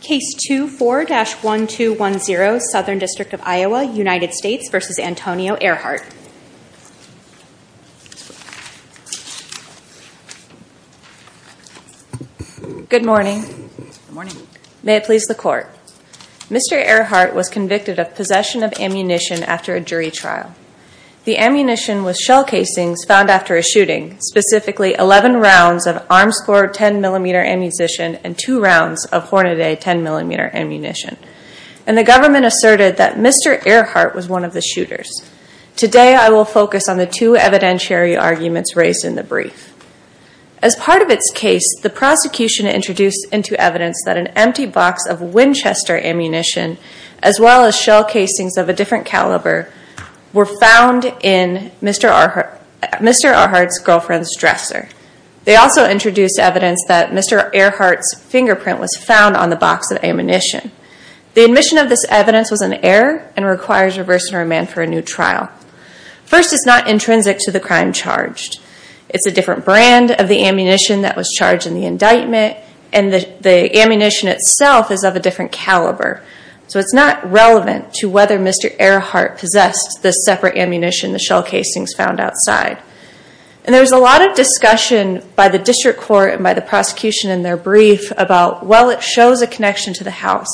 Case 24-1210, Southern District of Iowa, United States v. Antonio Airhart Good morning. May it please the Court. Mr. Airhart was convicted of possession of ammunition after a jury trial. The ammunition was shell casings found after a shooting, specifically 11 rounds of Armscore 10mm ammunition and 2 rounds of Hornaday 10mm ammunition. And the government asserted that Mr. Airhart was one of the shooters. Today I will focus on the two evidentiary arguments raised in the brief. As part of its case, the prosecution introduced into evidence that an empty box of Winchester ammunition, as well as shell casings of a different caliber, were found in Mr. Airhart's girlfriend's dresser. They also introduced evidence that Mr. Airhart's fingerprint was found on the box of ammunition. The admission of this evidence was an error and requires reverse enromment for a new trial. First, it's not intrinsic to the crime charged. It's a different brand of the ammunition that was charged in the indictment, and the ammunition itself is of a different caliber. So it's not relevant to whether Mr. Airhart possessed the separate ammunition, the shell casings found outside. And there was a lot of discussion by the district court and by the prosecution in their brief about, well, it shows a connection to the house.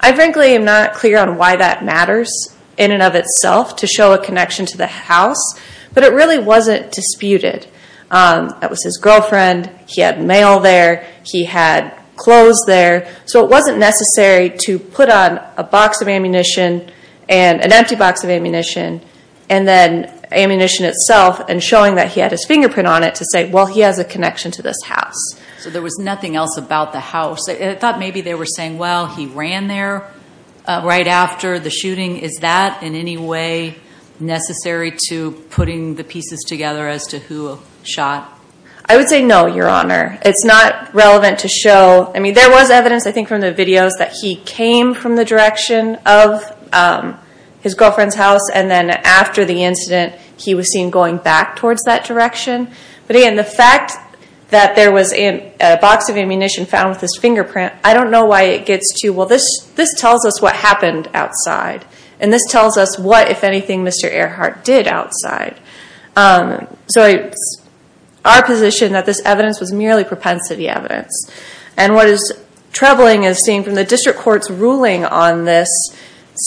I frankly am not clear on why that matters in and of itself to show a connection to the house, but it really wasn't disputed. That was his girlfriend. He had mail there. He had clothes there. So it wasn't necessary to put on a box of ammunition and an empty box of ammunition and then ammunition itself and showing that he had his fingerprint on it to say, well, he has a connection to this house. So there was nothing else about the house. I thought maybe they were saying, well, he ran there right after the shooting. Is that in any way necessary to putting the pieces together as to who shot? I would say no, Your Honor. It's not relevant to show. I mean, there was evidence, I think, from the videos that he came from the direction of his girlfriend's house, and then after the incident he was seen going back towards that direction. But, again, the fact that there was a box of ammunition found with his fingerprint, I don't know why it gets to, well, this tells us what happened outside, and this tells us what, if anything, Mr. Earhart did outside. So it's our position that this evidence was merely propensity evidence. And what is troubling is seeing from the district court's ruling on this,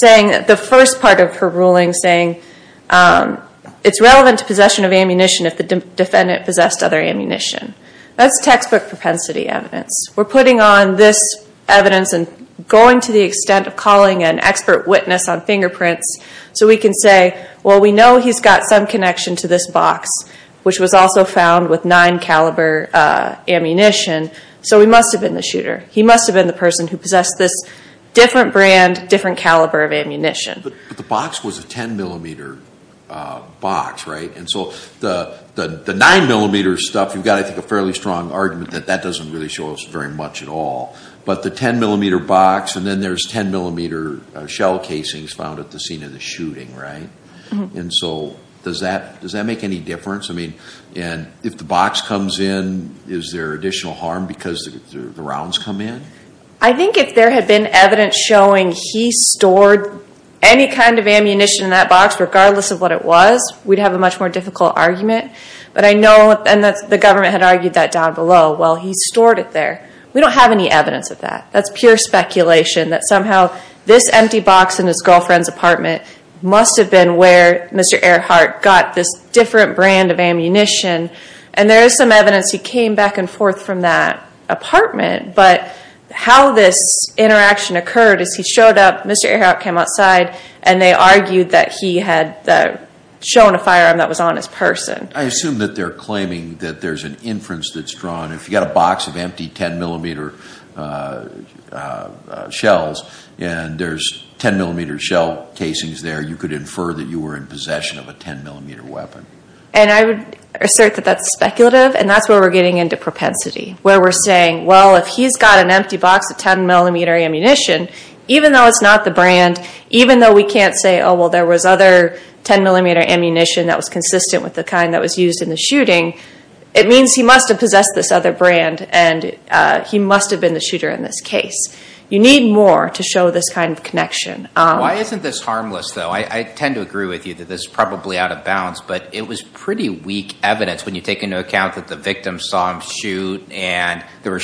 the first part of her ruling saying it's relevant to possession of ammunition if the defendant possessed other ammunition. That's textbook propensity evidence. We're putting on this evidence and going to the extent of calling an expert witness on fingerprints so we can say, well, we know he's got some connection to this box, which was also found with 9-caliber ammunition, so he must have been the shooter. He must have been the person who possessed this different brand, different caliber of ammunition. But the box was a 10-millimeter box, right? And so the 9-millimeter stuff, you've got, I think, a fairly strong argument that that doesn't really show us very much at all. But the 10-millimeter box, and then there's 10-millimeter shell casings found at the scene of the shooting, right? And so does that make any difference? I mean, if the box comes in, is there additional harm because the rounds come in? I think if there had been evidence showing he stored any kind of ammunition in that box, regardless of what it was, we'd have a much more difficult argument. But I know, and the government had argued that down below. Well, he stored it there. We don't have any evidence of that. That's pure speculation that somehow this empty box in his girlfriend's apartment must have been where Mr. Earhart got this different brand of ammunition. And there is some evidence he came back and forth from that apartment. But how this interaction occurred is he showed up, Mr. Earhart came outside, and they argued that he had shown a firearm that was on his person. I assume that they're claiming that there's an inference that's drawn. If you've got a box of empty 10-millimeter shells and there's 10-millimeter shell casings there, you could infer that you were in possession of a 10-millimeter weapon. And I would assert that that's speculative, and that's where we're getting into propensity, where we're saying, well, if he's got an empty box of 10-millimeter ammunition, even though it's not the brand, even though we can't say, oh, well, there was other 10-millimeter ammunition that was consistent with the kind that was used in the shooting, it means he must have possessed this other brand, and he must have been the shooter in this case. You need more to show this kind of connection. Why isn't this harmless, though? I tend to agree with you that this is probably out of bounds, but it was pretty weak evidence when you take into account that the victim saw him shoot and there were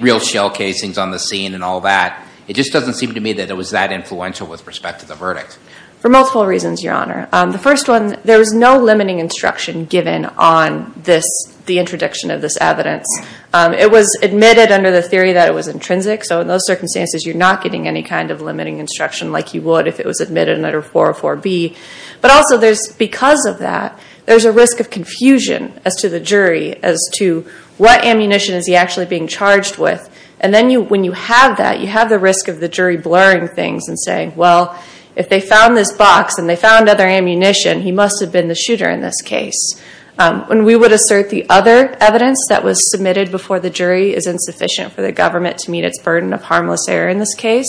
real shell casings on the scene and all that. It just doesn't seem to me that it was that influential with respect to the verdict. For multiple reasons, Your Honor. The first one, there was no limiting instruction given on the introduction of this evidence. It was admitted under the theory that it was intrinsic, so in those circumstances you're not getting any kind of limiting instruction like you would if it was admitted under 404B. But also, because of that, there's a risk of confusion as to the jury, as to what ammunition is he actually being charged with. And then when you have that, you have the risk of the jury blurring things and saying, well, if they found this box and they found other ammunition, he must have been the shooter in this case. And we would assert the other evidence that was submitted before the jury is insufficient for the government to meet its burden of harmless error in this case.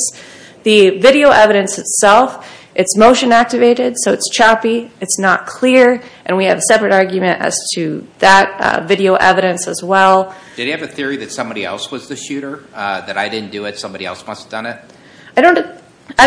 The video evidence itself, it's motion activated, so it's choppy, it's not clear, and we have a separate argument as to that video evidence as well. Did he have a theory that somebody else was the shooter? That I didn't do it, somebody else must have done it? I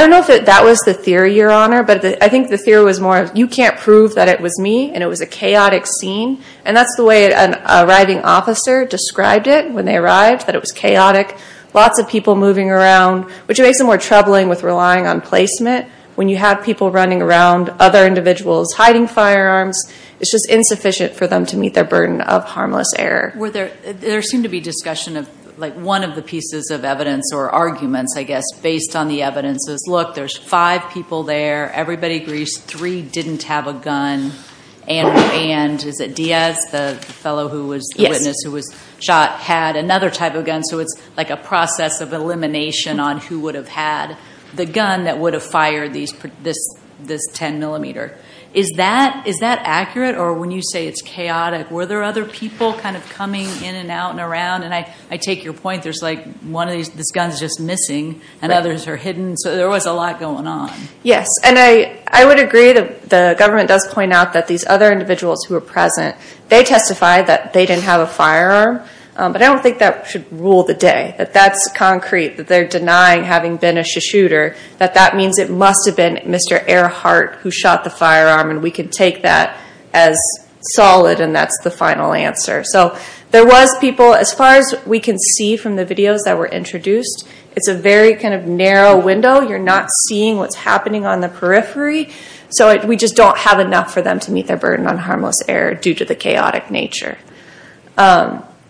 don't know if that was the theory, Your Honor, but I think the theory was more, you can't prove that it was me and it was a chaotic scene. And that's the way an arriving officer described it when they arrived, that it was chaotic, lots of people moving around, which makes it more troubling with relying on placement. When you have people running around, other individuals hiding firearms, it's just insufficient for them to meet their burden of harmless error. There seemed to be discussion of one of the pieces of evidence or arguments, I guess, based on the evidence is, look, there's five people there, everybody agrees, three didn't have a gun, and is it Diaz, the fellow who was the witness who was shot, had another type of gun, so it's like a process of elimination on who would have had the gun that would have fired this 10 millimeter. Is that accurate, or when you say it's chaotic, were there other people kind of coming in and out and around? And I take your point, there's like one of these, this gun's just missing, and others are hidden, so there was a lot going on. Yes, and I would agree that the government does point out that these other individuals who were present, they testified that they didn't have a firearm, but I don't think that should rule the day, that that's concrete, that they're denying having been a shooter, that that means it must have been Mr. Earhart who shot the firearm, and we can take that as solid, and that's the final answer. So there was people, as far as we can see from the videos that were introduced, it's a very kind of narrow window, you're not seeing what's happening on the periphery, so we just don't have enough for them to meet their burden on harmless error due to the chaotic nature.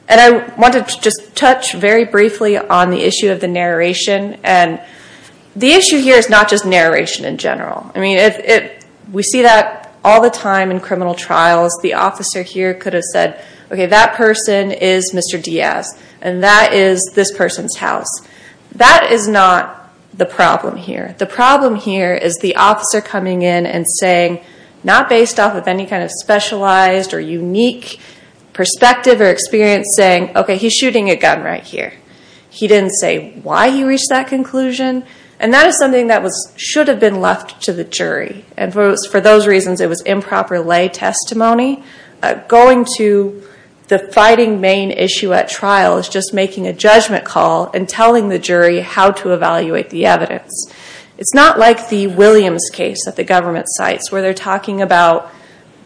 And I wanted to just touch very briefly on the issue of the narration, and the issue here is not just narration in general. I mean, we see that all the time in criminal trials, the officer here could have said, okay, that person is Mr. Diaz, and that is this person's house. That is not the problem here. The problem here is the officer coming in and saying, not based off of any kind of specialized or unique perspective or experience, saying, okay, he's shooting a gun right here. He didn't say why he reached that conclusion, and that is something that should have been left to the jury, and for those reasons it was improper lay testimony. Going to the fighting main issue at trial is just making a judgment call and telling the jury how to evaluate the evidence. It's not like the Williams case that the government cites, where they're talking about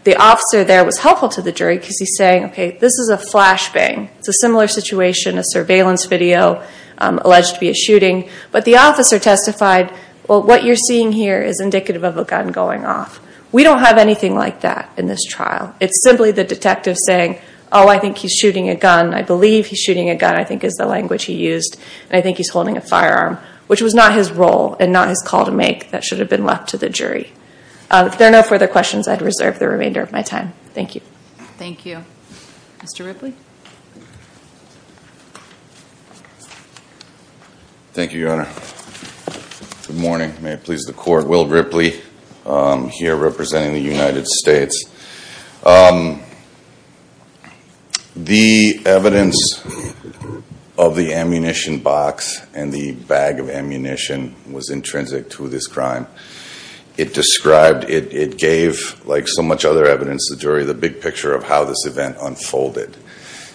the officer there was helpful to the jury because he's saying, okay, this is a flashbang. It's a similar situation, a surveillance video alleged to be a shooting, but the officer testified, well, what you're seeing here is indicative of a gun going off. We don't have anything like that in this trial. It's simply the detective saying, oh, I think he's shooting a gun. I believe he's shooting a gun, I think is the language he used, and I think he's holding a firearm, which was not his role and not his call to make that should have been left to the jury. If there are no further questions, I'd reserve the remainder of my time. Thank you. Thank you. Mr. Ripley. Thank you, Your Honor. Good morning. May it please the Court. Will Ripley here representing the United States. The evidence of the ammunition box and the bag of ammunition was intrinsic to this crime. It described, it gave, like so much other evidence to the jury, the big picture of how this event unfolded.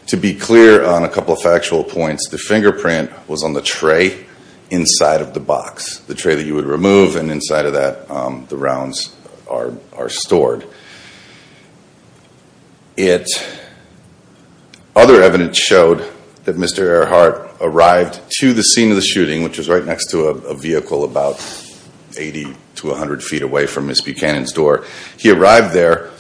To be clear on a couple of factual points, the fingerprint was on the tray inside of the box, the tray that you would remove, and inside of that, the rounds are stored. Other evidence showed that Mr. Earhart arrived to the scene of the shooting, which was right next to a vehicle about 80 to 100 feet away from Ms. Buchanan's door. He arrived there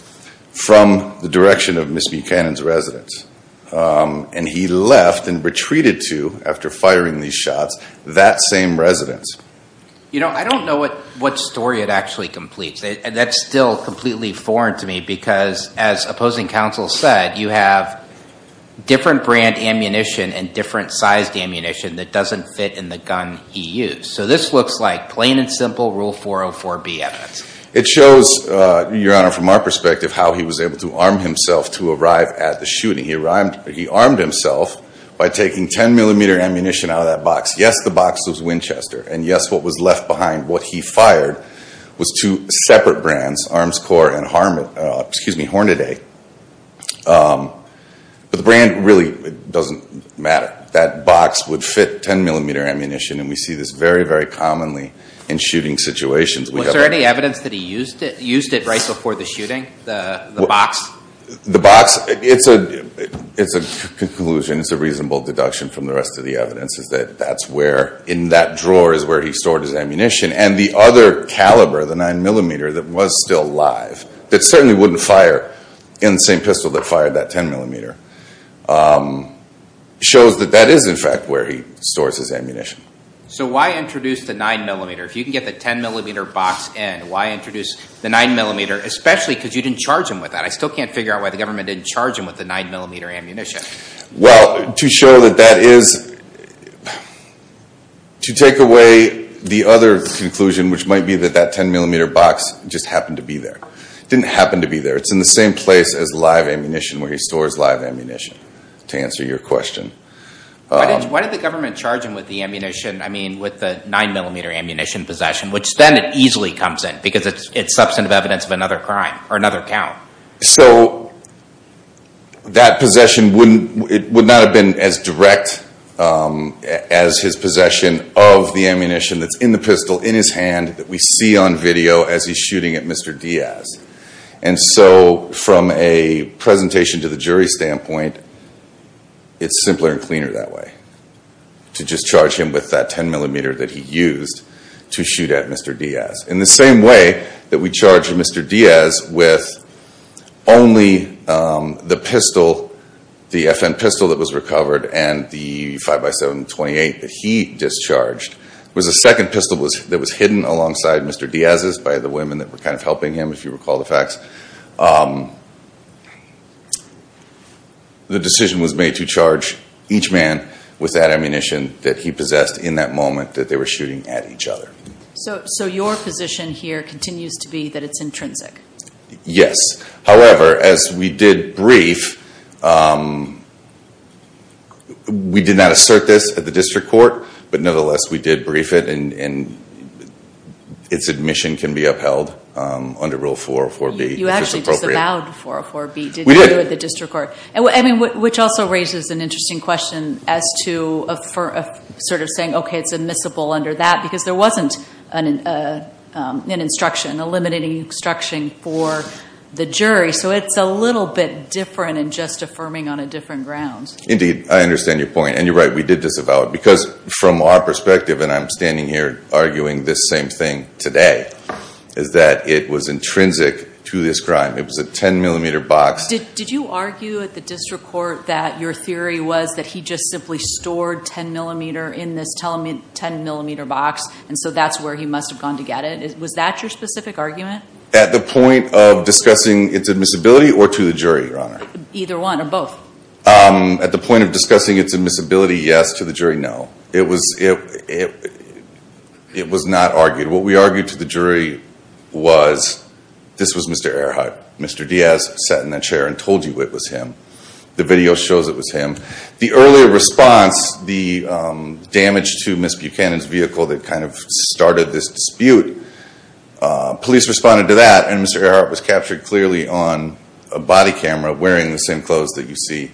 from the direction of Ms. Buchanan's residence, and he left and retreated to, after firing these shots, that same residence. You know, I don't know what story it actually completes. That's still completely foreign to me because, as opposing counsel said, you have different brand ammunition and different sized ammunition that doesn't fit in the gun he used. So this looks like plain and simple Rule 404B evidence. It shows, Your Honor, from our perspective, how he was able to arm himself to arrive at the shooting. He armed himself by taking 10-millimeter ammunition out of that box. Yes, the box was Winchester, and yes, what was left behind, what he fired, was two separate brands, Armscor and Hornaday. But the brand really doesn't matter. That box would fit 10-millimeter ammunition, and we see this very, very commonly in shooting situations. Was there any evidence that he used it right before the shooting, the box? The box, it's a conclusion, it's a reasonable deduction from the rest of the evidence, is that that's where, in that drawer, is where he stored his ammunition. And the other caliber, the 9-millimeter, that was still live, that certainly wouldn't fire in the same pistol that fired that 10-millimeter, shows that that is, in fact, where he stores his ammunition. So why introduce the 9-millimeter? If you can get the 10-millimeter box in, why introduce the 9-millimeter, especially because you didn't charge him with that? I still can't figure out why the government didn't charge him with the 9-millimeter ammunition. Well, to show that that is, to take away the other conclusion, which might be that that 10-millimeter box just happened to be there. It didn't happen to be there. It's in the same place as live ammunition, where he stores live ammunition, to answer your question. Why did the government charge him with the 9-millimeter ammunition possession, which then it easily comes in because it's substantive evidence of another crime or another count? So that possession would not have been as direct as his possession of the ammunition that's in the pistol in his hand that we see on video as he's shooting at Mr. Diaz. And so from a presentation to the jury standpoint, it's simpler and cleaner that way, to just charge him with that 10-millimeter that he used to shoot at Mr. Diaz. In the same way that we charge Mr. Diaz with only the pistol, the FN pistol that was recovered and the 5x7 .28 that he discharged, was a second pistol that was hidden alongside Mr. Diaz's by the women that were kind of helping him, if you recall the facts. The decision was made to charge each man with that ammunition that he possessed in that moment that they were shooting at each other. So your position here continues to be that it's intrinsic? Yes. However, as we did brief, we did not assert this at the district court. But nonetheless, we did brief it, and its admission can be upheld under Rule 404B, which is appropriate. You actually disavowed 404B, did you, at the district court? Which also raises an interesting question as to sort of saying, okay, it's admissible under that, because there wasn't an instruction, a limiting instruction for the jury. So it's a little bit different in just affirming on a different ground. Indeed. I understand your point. And you're right, we did disavow it. Because from our perspective, and I'm standing here arguing this same thing today, is that it was intrinsic to this crime. It was a 10mm box. Did you argue at the district court that your theory was that he just simply stored 10mm in this 10mm box, and so that's where he must have gone to get it? Was that your specific argument? At the point of discussing its admissibility or to the jury, Your Honor? Either one or both. At the point of discussing its admissibility, yes. To the jury, no. It was not argued. What we argued to the jury was, this was Mr. Earhart. Mr. Diaz sat in that chair and told you it was him. The video shows it was him. The earlier response, the damage to Ms. Buchanan's vehicle that kind of started this dispute, police responded to that, and Mr. Earhart was captured clearly on a body camera wearing the same clothes that you see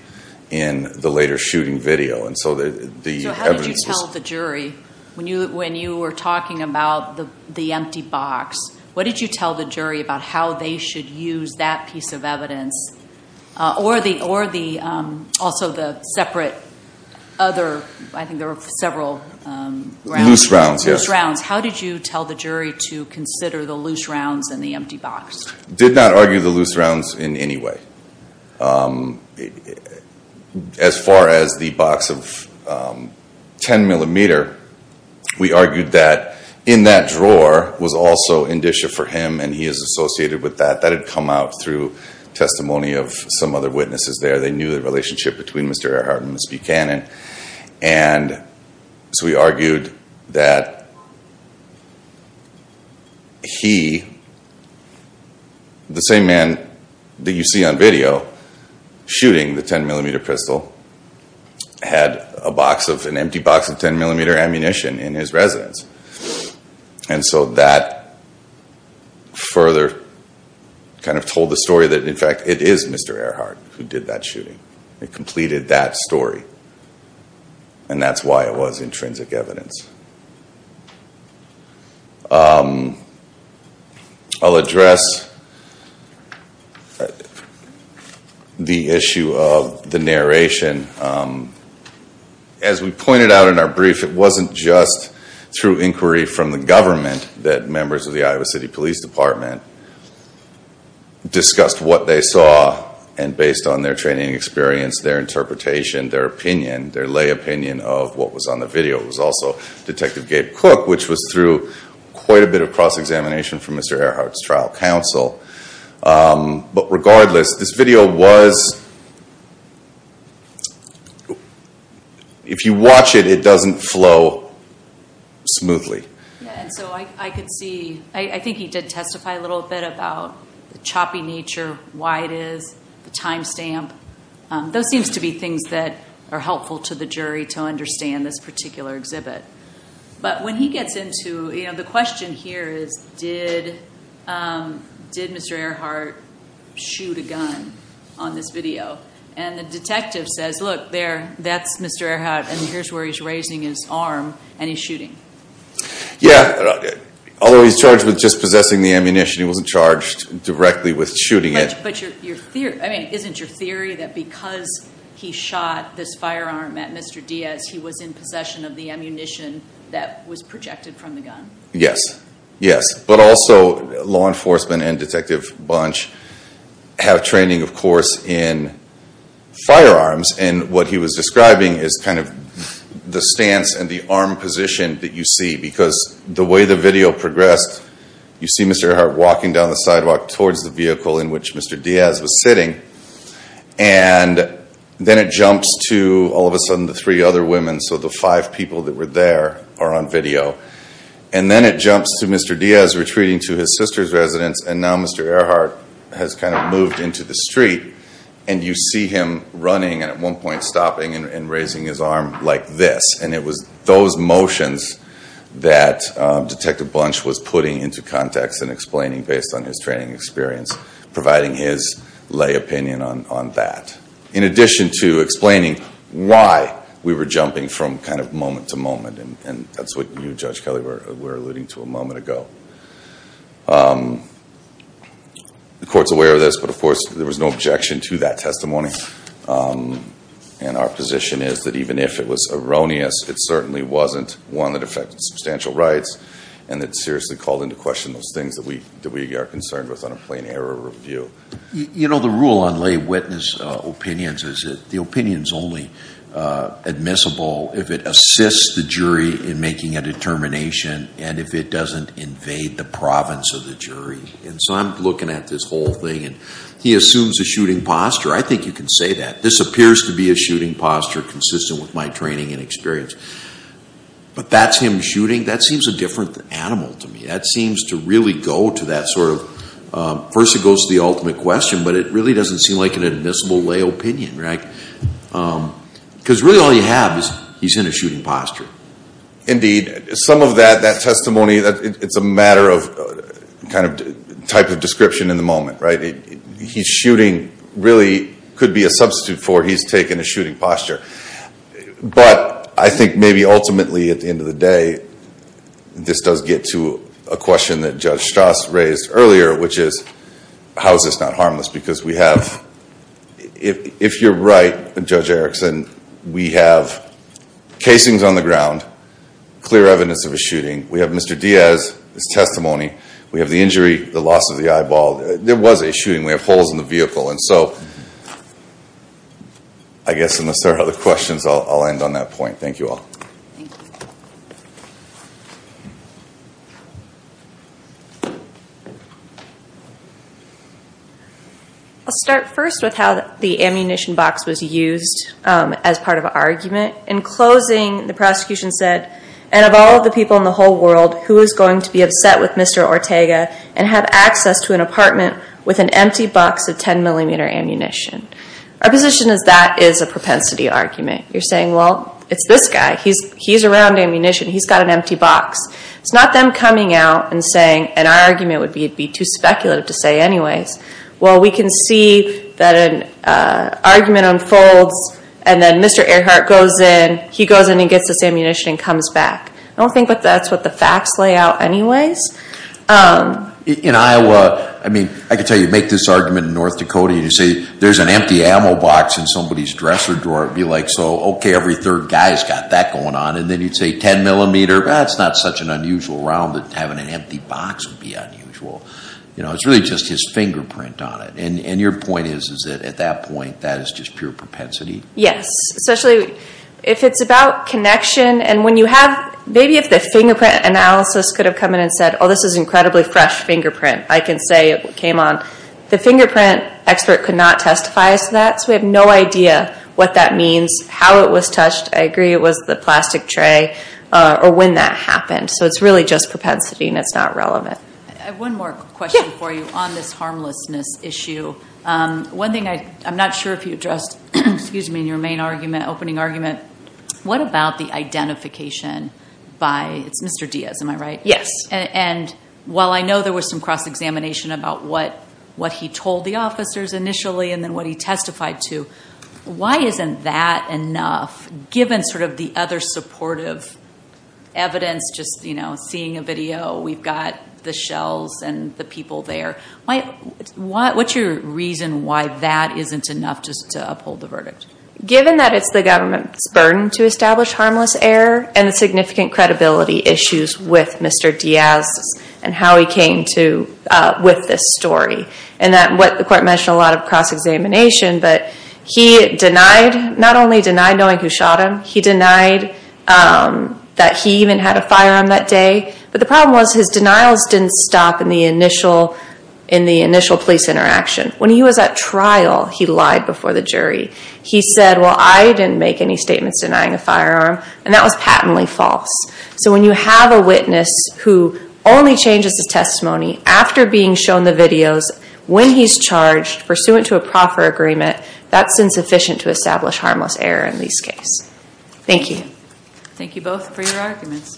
in the later shooting video. So how did you tell the jury? When you were talking about the empty box, what did you tell the jury about how they should use that piece of evidence? Or also the separate other, I think there were several rounds. Loose rounds, yes. How did you tell the jury to consider the loose rounds and the empty box? We did not argue the loose rounds in any way. As far as the box of 10 millimeter, we argued that in that drawer was also indicia for him and he is associated with that. That had come out through testimony of some other witnesses there. They knew the relationship between Mr. Earhart and Ms. Buchanan. And so we argued that he, the same man that you see on video shooting the 10 millimeter pistol, had an empty box of 10 millimeter ammunition in his residence. And so that further kind of told the story that in fact it is Mr. Earhart who did that shooting. It completed that story. And that's why it was intrinsic evidence. I'll address the issue of the narration. As we pointed out in our brief, it wasn't just through inquiry from the government that members of the Iowa City Police Department discussed what they saw. And based on their training experience, their interpretation, their opinion, their lay opinion of what was on the video. It was also Detective Gabe Cook, which was through quite a bit of cross-examination from Mr. Earhart's trial counsel. But regardless, this video was, if you watch it, it doesn't flow smoothly. I think he did testify a little bit about the choppy nature, why it is, the time stamp. Those seems to be things that are helpful to the jury to understand this particular exhibit. But when he gets into, you know, the question here is, did Mr. Earhart shoot a gun on this video? And the detective says, look there, that's Mr. Earhart. And here's where he's raising his arm and he's shooting. Yeah. Although he's charged with just possessing the ammunition, he wasn't charged directly with shooting it. But isn't your theory that because he shot this firearm at Mr. Diaz, he was in possession of the ammunition that was projected from the gun? Yes. Yes. But also, law enforcement and Detective Bunch have training, of course, in firearms. And what he was describing is kind of the stance and the arm position that you see. Because the way the video progressed, you see Mr. Earhart walking down the sidewalk towards the vehicle in which Mr. Diaz was sitting. And then it jumps to, all of a sudden, the three other women. So the five people that were there are on video. And then it jumps to Mr. Diaz retreating to his sister's residence. And now Mr. Earhart has kind of moved into the street. And you see him running and at one point stopping and raising his arm like this. And it was those motions that Detective Bunch was putting into context and explaining based on his training experience, providing his lay opinion on that. In addition to explaining why we were jumping from kind of moment to moment. And that's what you, Judge Kelly, were alluding to a moment ago. The court's aware of this. But, of course, there was no objection to that testimony. And our position is that even if it was erroneous, it certainly wasn't one that affected substantial rights. And it seriously called into question those things that we are concerned with on a plain error review. You know, the rule on lay witness opinions is that the opinion is only admissible if it assists the jury in making a determination and if it doesn't invade the province of the jury. And so I'm looking at this whole thing and he assumes a shooting posture. I think you can say that. This appears to be a shooting posture consistent with my training and experience. But that's him shooting. That seems a different animal to me. That seems to really go to that sort of, first it goes to the ultimate question, but it really doesn't seem like an admissible lay opinion. Because really all you have is he's in a shooting posture. Indeed. Some of that testimony, it's a matter of type of description in the moment. He's shooting really could be a substitute for he's taking a shooting posture. But I think maybe ultimately at the end of the day, this does get to a question that Judge Strauss raised earlier, which is how is this not harmless? Because we have, if you're right, Judge Erickson, we have casings on the ground, clear evidence of a shooting. We have Mr. Diaz, his testimony. We have the injury, the loss of the eyeball. There was a shooting. We have holes in the vehicle. And so I guess unless there are other questions, I'll end on that point. Thank you all. Thank you. I'll start first with how the ammunition box was used as part of an argument. In closing, the prosecution said, and of all the people in the whole world, who is going to be upset with Mr. Ortega and have access to an apartment with an empty box of 10 millimeter ammunition? Our position is that is a propensity argument. You're saying, well, it's this guy. He's around ammunition. He's got an empty box. It's not them coming out and saying, and our argument would be it would be too speculative to say anyways, well, we can see that an argument unfolds and then Mr. Earhart goes in, he goes in and gets this ammunition and comes back. I don't think that's what the facts lay out anyways. In Iowa, I mean, I could tell you make this argument in North Dakota and you say there's an empty ammo box in somebody's dresser drawer. It would be like, so, okay, every third guy's got that going on, and then you'd say 10 millimeter, that's not such an unusual round that having an empty box would be unusual. It's really just his fingerprint on it, and your point is that at that point that is just pure propensity? Yes, especially if it's about connection and when you have, maybe if the fingerprint analysis could have come in and said, oh, this is incredibly fresh fingerprint, I can say it came on. The fingerprint expert could not testify as to that, so we have no idea what that means, how it was touched. I agree it was the plastic tray or when that happened, so it's really just propensity and it's not relevant. I have one more question for you on this harmlessness issue. One thing I'm not sure if you addressed, excuse me, in your main argument, opening argument, what about the identification by, it's Mr. Diaz, am I right? Yes. And while I know there was some cross-examination about what he told the officers initially and then what he testified to, why isn't that enough given sort of the other supportive evidence, just seeing a video, we've got the shells and the people there. What's your reason why that isn't enough just to uphold the verdict? Given that it's the government's burden to establish harmless error and the significant credibility issues with Mr. Diaz and how he came to with this story and that what the court mentioned a lot of cross-examination, but he denied, not only denied knowing who shot him, he denied that he even had a firearm that day, but the problem was his denials didn't stop in the initial police interaction. When he was at trial, he lied before the jury. He said, well, I didn't make any statements denying a firearm, and that was patently false. So when you have a witness who only changes his testimony after being shown the videos, when he's charged, pursuant to a proffer agreement, that's insufficient to establish harmless error in this case. Thank you. Thank you both for your arguments.